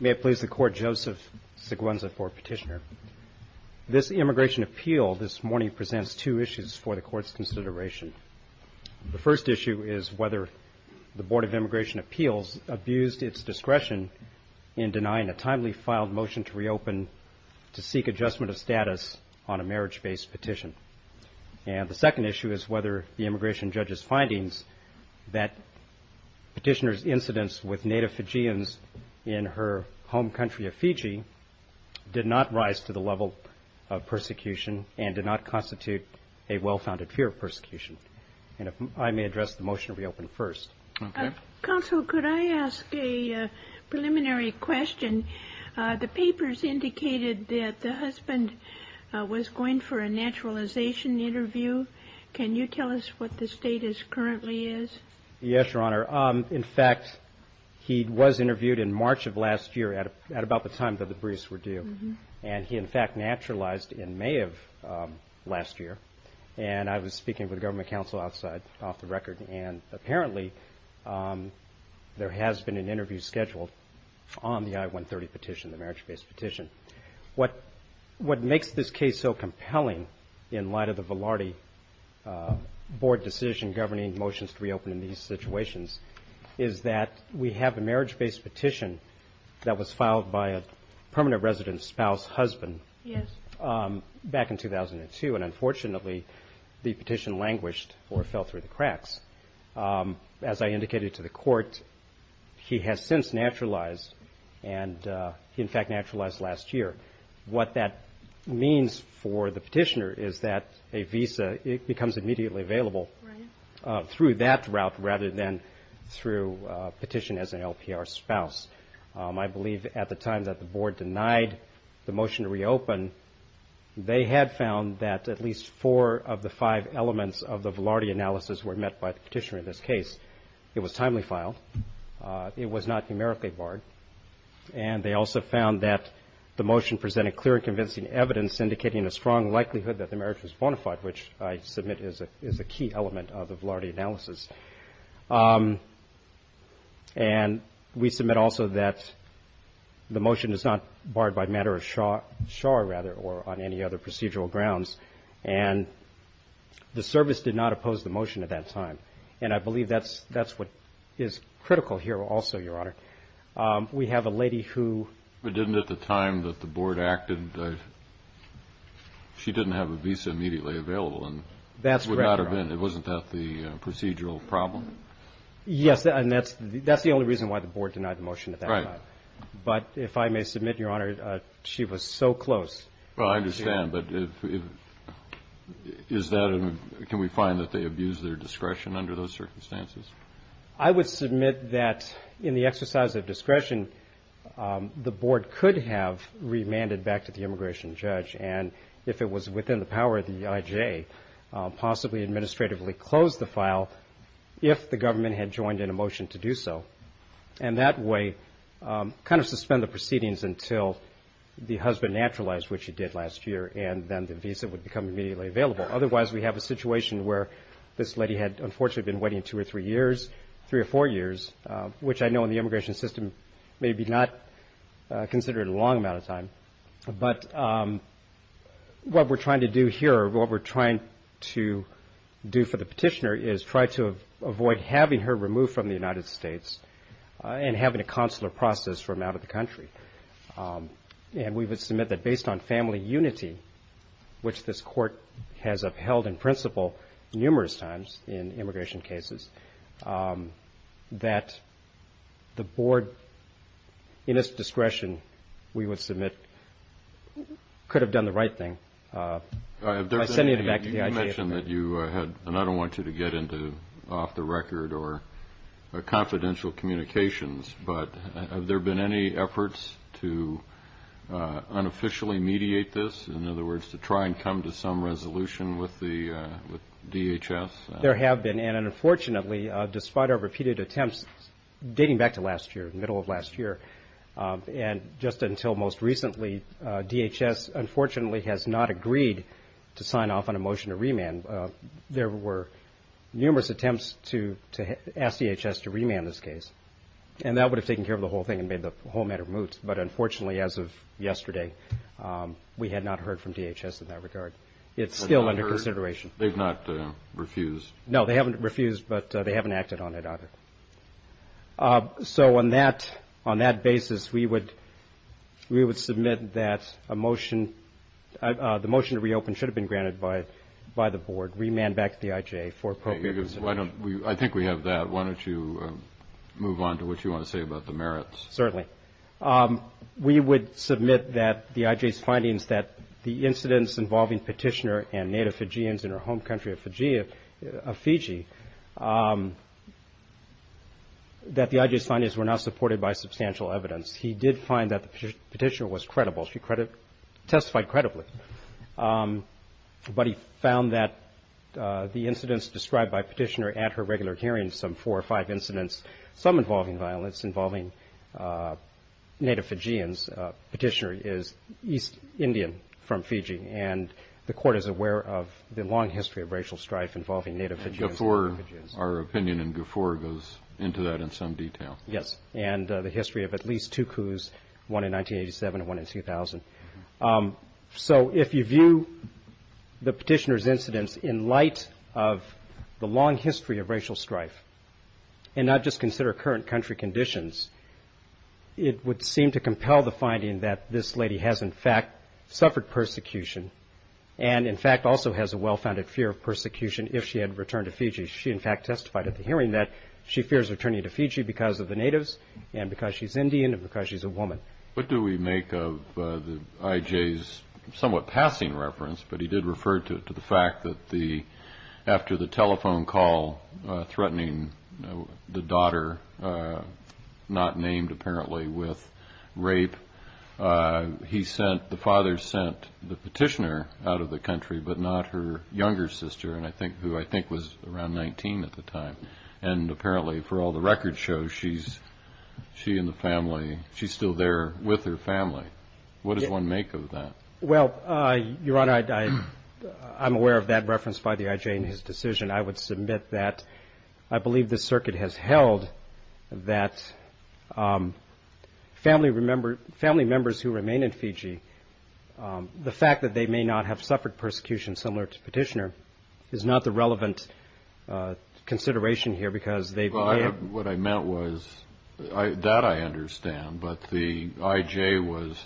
May it please the Court, Joseph Seguenza for Petitioner. This Immigration Appeal this morning presents two issues for the Court's consideration. The first issue is whether the Board of Immigration Appeals abused its discretion in denying a timely filed motion to reopen to seek adjustment of status on a marriage-based petition. And the second issue is whether the Immigration Appeal's incidence with native Fijians in her home country of Fiji did not rise to the level of persecution and did not constitute a well-founded fear of persecution. And if I may address the motion to reopen first. Counsel, could I ask a preliminary question? The papers indicated that the husband was going for a naturalization interview. Can you tell us what the status currently is? Yes, Your Honor. In fact, he was interviewed in March of last year at about the time that the briefs were due. And he, in fact, naturalized in May of last year. And I was speaking with government counsel outside off the record. And apparently, there has been an interview scheduled on the I-130 petition, the marriage-based petition. What makes this case so compelling in light of the Velarde Board decision governing motions to reopen in these situations is that we have a marriage-based petition that was filed by a permanent resident spouse husband back in 2002. And unfortunately, the petition languished or fell through the cracks. As I indicated to the Court, he has since naturalized. And he, in fact, naturalized last year. What that means for the petitioner is that a visa, it becomes immediately available through that route rather than through petition as an LPR spouse. I believe at the time that the Board denied the motion to reopen, they had found that at least four of the five elements of the Velarde analysis were met by the petitioner in this case. It was timely filed. It was not numerically barred. And they also found that the motion presented clear and convincing evidence indicating a strong likelihood that the marriage was bona fide, which I submit is a key element of the Velarde analysis. And we submit also that the motion is not barred by matter of char, rather, or on any other procedural grounds. And the service did not oppose the motion at that time. And I believe that's what is critical here also, Your Honor. We have a lady who But didn't at the time that the Board acted, she didn't have a visa immediately available. That's correct, Your Honor. It would not have been. Wasn't that the procedural problem? Yes. And that's the only reason why the Board denied the motion at that time. Right. But if I may submit, Your Honor, she was so close. Well, I understand. But is that, can we find that they abused their discretion under those circumstances? I would submit that in the exercise of discretion, the Board could have remanded back to the immigration judge. And if it was within the power of the IJ, possibly administratively close the file if the government had joined in a motion to do so. And that way, kind of suspend the proceedings until the husband naturalized, which he did last year. And then the visa would become immediately available. Otherwise, we have a situation where this three or four years, which I know in the immigration system may be not considered a long amount of time. But what we're trying to do here, what we're trying to do for the petitioner is try to avoid having her removed from the United States and having a consular process from out of the country. And we would submit that based on family unity, which this court has upheld in principle numerous times in immigration cases, that the Board, in its discretion, we would submit could have done the right thing by sending it back to the IJ. You mentioned that you had, and I don't want you to get into off-the-record or confidential communications, but have there been any efforts to unofficially mediate this? In other words, to try and come to some resolution with the DHS? There have been. And unfortunately, despite our repeated attempts dating back to last year, middle of last year, and just until most recently, DHS unfortunately has not agreed to sign off on a motion to remand. There were numerous attempts to ask DHS to remand this case. And that would have taken care of the whole thing and made the whole matter moot. But unfortunately, as of yesterday, we had not heard from DHS in that regard. It's still under consideration. They've not refused? No, they haven't refused, but they haven't acted on it either. So on that basis, we would submit that a motion, the motion to reopen should have been granted by the Board, remand back to the IJ for appropriate consideration. I think we have that. Why don't you move on to what you want to say about the merits? Certainly. We would submit that the IJ's findings that the incidents involving Petitioner and Native Fijians in her home country of Fiji, that the IJ's findings were not supported by substantial evidence. He did find that the Petitioner was credible. She testified credibly. But he found that the incidents described by Petitioner at her regular hearings, some four or five incidents, some involving Native Fijians, Petitioner is East Indian from Fiji, and the Court is aware of the long history of racial strife involving Native Fijians and Native Fijians. Guffor, our opinion in Guffor, goes into that in some detail. Yes, and the history of at least two coups, one in 1987 and one in 2000. So if you view the Petitioner's incidents in light of the long history of racial strife, and not just consider current country conditions, it would seem to compel the finding that this lady has in fact suffered persecution, and in fact also has a well-founded fear of persecution if she had returned to Fiji. She in fact testified at the hearing that she fears returning to Fiji because of the Natives, and because she's Indian, and because she's a woman. What do we make of the IJ's somewhat passing reference, but he did refer to the fact that after the telephone call threatening the daughter, not named apparently, with rape, the father sent the Petitioner out of the country, but not her younger sister, who I think was around 19 at the time. And apparently for all the record shows, she and the family, she's still there with her family. What does one make of that? Well, Your Honor, I'm aware of that reference by the IJ in his decision. I would submit that I believe the circuit has held that family members who remain in Fiji, the fact that they may not have suffered persecution similar to Petitioner, is not the relevant consideration here because they've been there. What I meant was, that I understand, but the IJ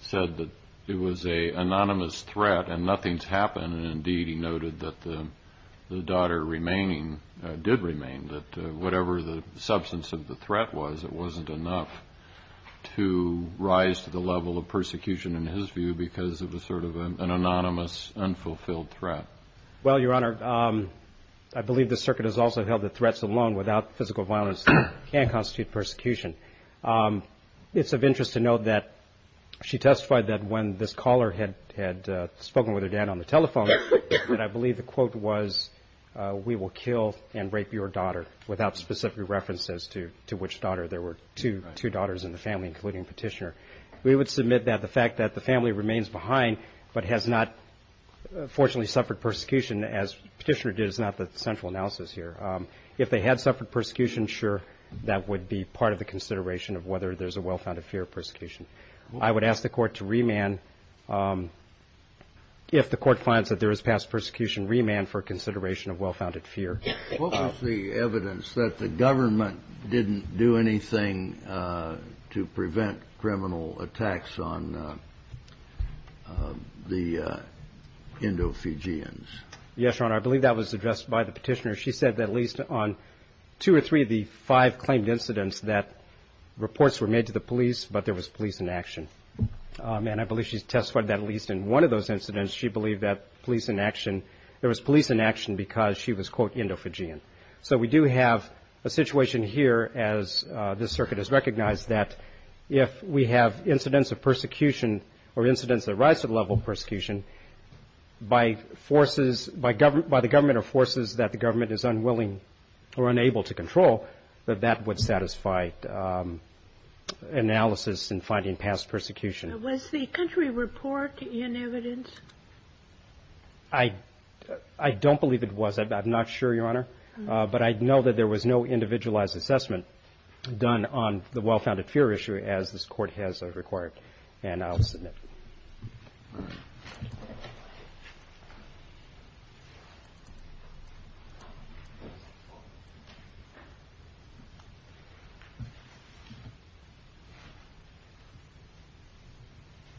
said that it was an anonymous threat and nothing's happened, and indeed he noted that the daughter did remain, that whatever the substance of the threat was, it wasn't enough to rise to the level of persecution in his view because it was sort of an anonymous, unfulfilled threat. Well, Your Honor, I believe the circuit has also held that threats alone without physical violence can constitute persecution. It's of interest to note that she testified that when this caller had spoken with her dad on the telephone, that I believe the quote was, we will kill and rape your daughter, without specific references to which daughter. There were two daughters in the family, including Petitioner. We would submit that the fact that the family remains behind but has not, fortunately, suffered persecution, as Petitioner did, is not the central analysis here. If they had suffered persecution, sure, that would be part of the consideration of whether there's a well-founded fear of persecution. I would ask the Court to remand, if the Court finds that there is past persecution, remand for consideration of well-founded fear. What was the evidence that the government didn't do anything to prevent criminal attacks on the Indo-Fijians? Yes, Your Honor. I believe that was addressed by the Petitioner. She said that at least on two or three of the five claimed incidents that reports were made to the police, but there was police inaction. And I believe she testified that at least in one of those incidents, she believed that police inaction, there was police inaction because she was, quote, Indo-Fijian. So we do have a situation here, as this circuit has recognized, that if we have incidents of persecution or incidents that rise to the level of persecution by forces, by the government or forces that the government is unwilling or unable to control, that that would satisfy analysis in finding past persecution. Was the country report in evidence? I don't believe it was. I'm not sure, Your Honor. But I know that there was no individualized assessment done on the well-founded fear issue, as this Court has required. And I'll submit.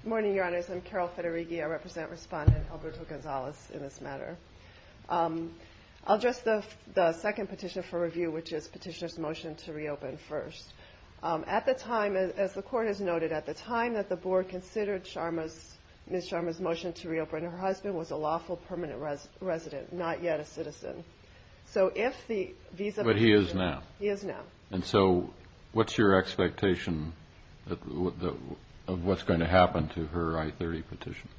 Good morning, Your Honors. I'm Carol Federighi. I represent Respondent Alberto Gonzalez in this matter. I'll address the second petition for review, which is Petitioner's Motion to Reopen First. At the time, as the Court has noted, at the time that the Board considered Ms. Sharma's motion to reopen, her husband was a lawful permanent resident, not yet a citizen. So if the visa petition... But he is now. He is now. And so what's your expectation of what's going to happen to her I-30 petition?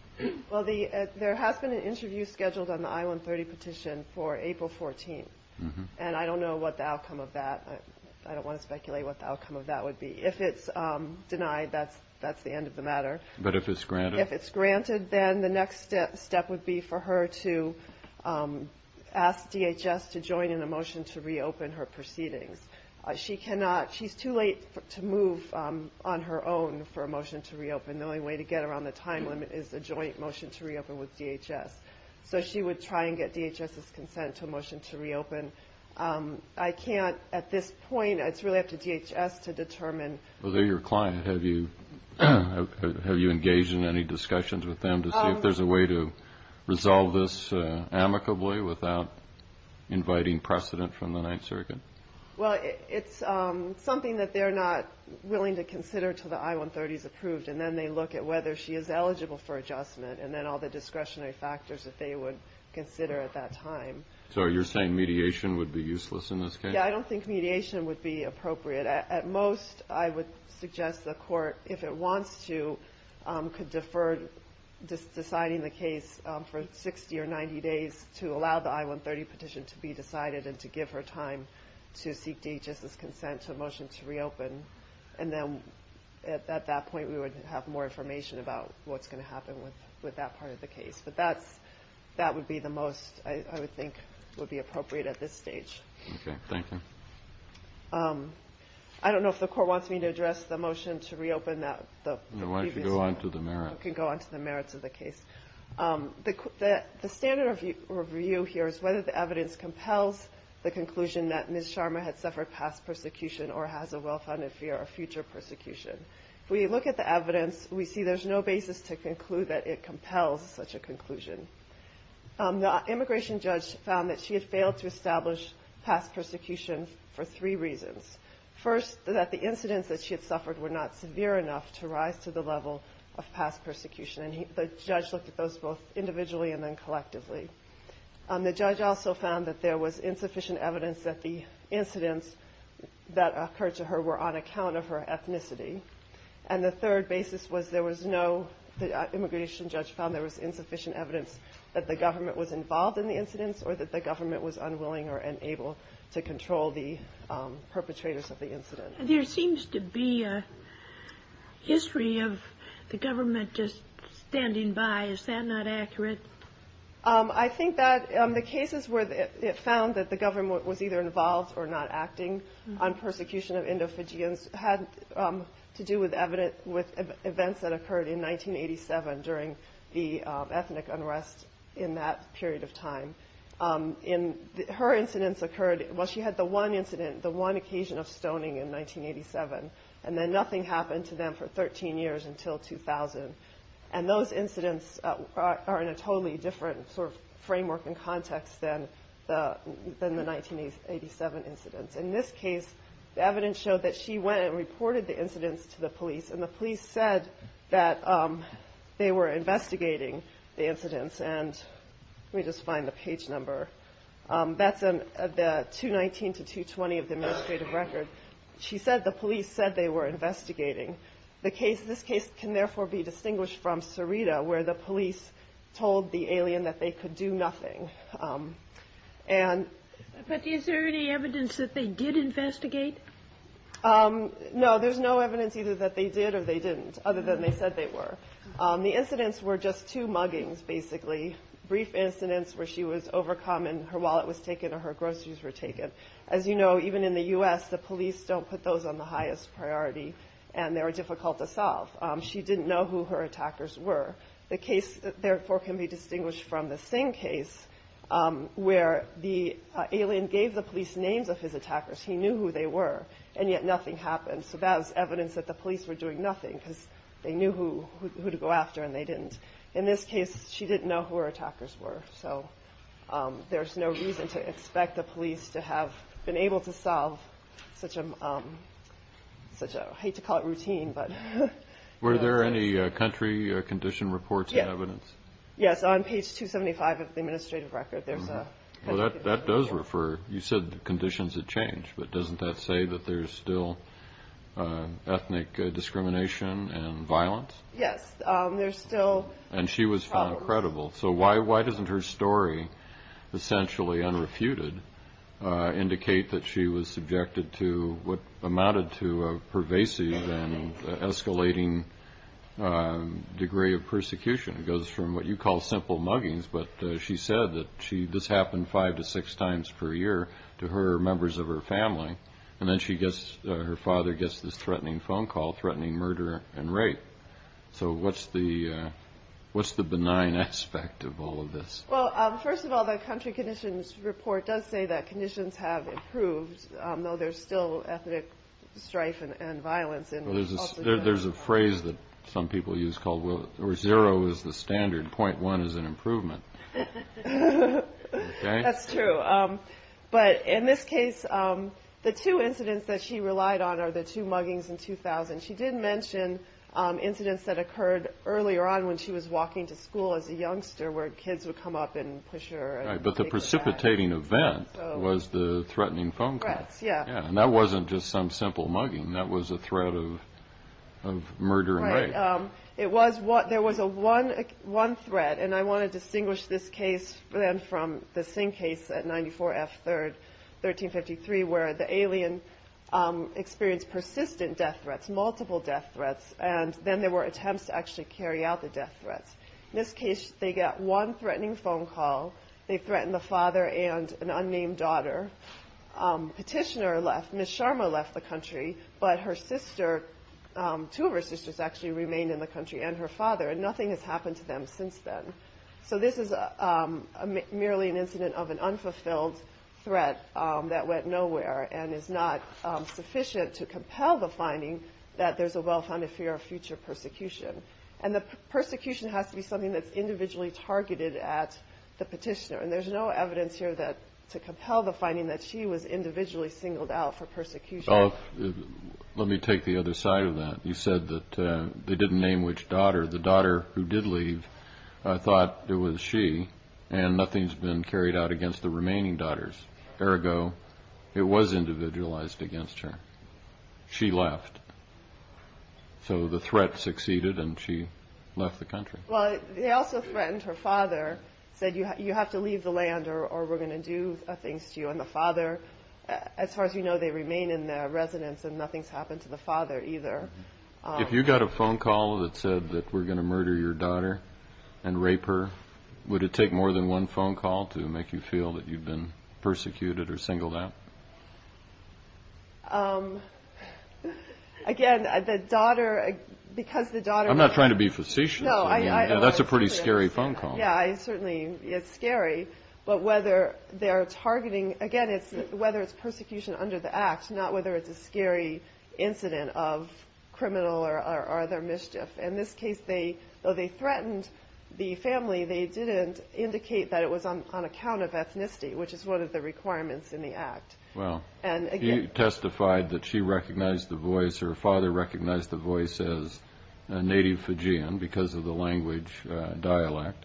Well, there has been an interview scheduled on the I-130 petition for April 14. And I don't know what the outcome of that... I don't want to speculate what the outcome of that would be. If it's denied, that's the end of the matter. But if it's granted? If it's granted, then the next step would be for her to ask DHS to join in a motion to reopen her proceedings. She cannot... She's too late to move on her own for a motion to joint motion to reopen with DHS. So she would try and get DHS's consent to a motion to reopen. I can't, at this point, it's really up to DHS to determine... Well, they're your client. Have you engaged in any discussions with them to see if there's a way to resolve this amicably without inviting precedent from the Ninth Circuit? Well, it's something that they're not willing to consider until the I-130 is approved. And then they look at whether she is eligible for adjustment, and then all the discretionary factors that they would consider at that time. So you're saying mediation would be useless in this case? Yeah, I don't think mediation would be appropriate. At most, I would suggest the court, if it wants to, could defer deciding the case for 60 or 90 days to allow the I-130 petition to be decided and to give her time to seek DHS's consent to a motion to reopen. And then at that point, we would have more information about what's going to happen with that part of the case. But that would be the most I would think would be appropriate at this stage. I don't know if the court wants me to address the motion to reopen the previous... No, why don't you go on to the merits? I can go on to the merits of the case. The standard review here is whether the evidence compels the conclusion that Ms. Sharma had suffered past persecution or has a well-founded fear of future persecution. If we look at the evidence, we see there's no basis to conclude that it compels such a conclusion. The immigration judge found that she had failed to establish past persecution for three reasons. First, that the incidents that she had suffered were not severe enough to rise to the level of past persecution, and the judge looked at those both individually and then collectively. The judge also found that there was insufficient evidence that the incidents that occurred to her were on account of her ethnicity. And the third basis was there was no... The immigration judge found there was insufficient evidence that the government was involved in the incidents or that the government was unwilling or unable to control the perpetrators of the incident. There seems to be a history of the government just standing by. Is that not accurate? I think that the cases where it found that the government was either involved or not acting on persecution of Indo-Fijians had to do with events that occurred in 1987 during the ethnic unrest in that period of time. Her incidents occurred... Well, she had the one incident, the one occasion of stoning in 1987, and then nothing happened to them for 13 years until 2000. And those incidents are in a totally different sort of framework and context than the 1987 incidents. In this case, the evidence showed that she went and reported the incidents to the police, and the police said that they were investigating the incidents. And let me just find the page number. That's the 219 to 220 of the administrative record. She said the police said they were investigating. The case... This case can therefore be distinguished from Sarita, where the police told the alien that they could do nothing. But is there any evidence that they did investigate? No, there's no evidence either that they did or they didn't, other than they said they were. The incidents were just two muggings, basically. Brief incidents where she was overcome and her wallet was taken or her groceries were taken. As you know, even in the U.S., the police don't put those on the highest priority, and they were difficult to solve. She didn't know who her attackers were. The case, therefore, can be distinguished from the same case where the alien gave the police names of his attackers. He knew who they were, and yet nothing happened. So that was evidence that the police were doing nothing because they knew who to go after, and they didn't. In this case, she didn't know who her attackers were, so there's no reason to expect the police to have been able to solve such a... I hate to call it routine, but... Were there any country condition reports and evidence? Yes. On page 275 of the administrative record, there's a... That does refer... You said the conditions had changed, but doesn't that say that there's still ethnic discrimination and violence? Yes, there's still... And she was found credible. So why doesn't her story, essentially unrefuted, indicate that she was subjected to what amounted to a pervasive and escalating degree of persecution? It goes from what you call simple muggings, but she said that this happened five to six times per year to her members of her family, and then her father gets this threatening phone call, threatening murder and rape. So what's the benign aspect of all of this? Well, first of all, the country conditions report does say that conditions have improved, though there's still ethnic strife and violence in... There's a phrase that some people use called, well, zero is the standard, .1 is an improvement. That's true. But in this case, the two incidents that she relied on are the two muggings in 2000. She did mention incidents that occurred earlier on when she was walking to school as a youngster where kids would come up and push her and take her bag. Right, but the precipitating event was the threatening phone call. Threats, yeah. Yeah, and that wasn't just some simple mugging. That was a threat of murder and rape. It was. There was one threat, and I want to distinguish this case then from the Singh case at 94 F 3rd, 1353, where the alien experienced persistent death threats, multiple death threats, and then there were attempts to actually carry out the death threats. In this case, they got one threatening phone call. They threatened the father and an unnamed daughter. Petitioner left. Miss Sharma left the country, but her sister, two of her sisters actually remained in the country and her father, and nothing has happened to them since then. So this is merely an incident of an unfulfilled threat that went nowhere and is not sufficient to compel the finding that there's a well-founded fear of future persecution. And the persecution has to be something that's individually targeted at the petitioner, and there's no evidence here to compel the finding that she was individually singled out for persecution. Let me take the other side of that. You said that they didn't name which daughter. The daughter who did leave, I thought it was she, and nothing's been carried out against the remaining daughters. Ergo, it was individualized against her. She left. So the threat succeeded and she left the country. Well, they also threatened her father, said, you have to leave the land or we're going to do things to you. And the father, as far as we know, they remain in the residence and nothing's happened to the father either. If you got a phone call that said that we're going to murder your daughter and rape her, would it take more than one phone call to make you feel that you've been persecuted or singled out? Again, the daughter, because the daughter- I'm not trying to be facetious. That's a pretty scary phone call. Yeah, it certainly is scary. But whether they're targeting, again, it's whether it's persecution under the act, not whether it's a scary incident of criminal or other mischief. In this case, though they threatened the family, they didn't indicate that it was on account of ethnicity, which is one of the requirements in the act. Well, she testified that she recognized the voice, her father recognized the voice as a native Fijian because of the language dialect.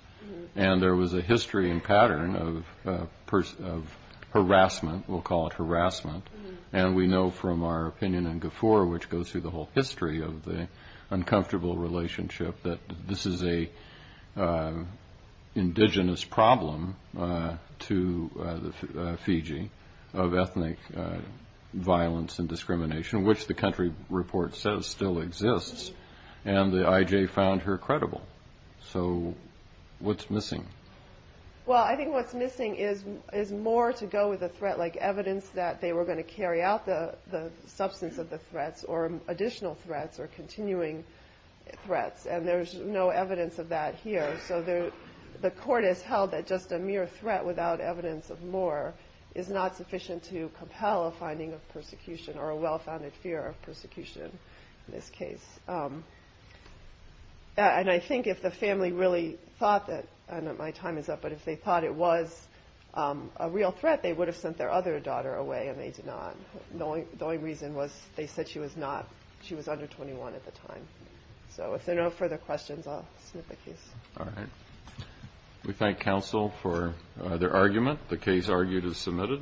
And there was a history and pattern of harassment, we'll call it harassment. And we know from our opinion in Gafur, which goes through the whole history of the uncomfortable relationship, that this is a indigenous problem to Fiji of ethnic violence and discrimination, which the country report says still exists. And the IJ found her credible. So what's missing? Well, I think what's missing is more to go with the threat like evidence that they were going to carry out the substance of the threats or additional threats or continuing threats. And there's no evidence of that here. So the court has held that just a mere threat without evidence of more is not sufficient to compel a finding of persecution or a well-founded fear of persecution in this case. And I think if the family really thought that, I know my time is up, but if they thought it was a real threat, they would have sent their other daughter away and they did not. The only reason was they said she was not, she was under 21 at the time. So if there are no further questions, I'll snip the case. All right. We thank counsel for their argument. The case argued is submitted.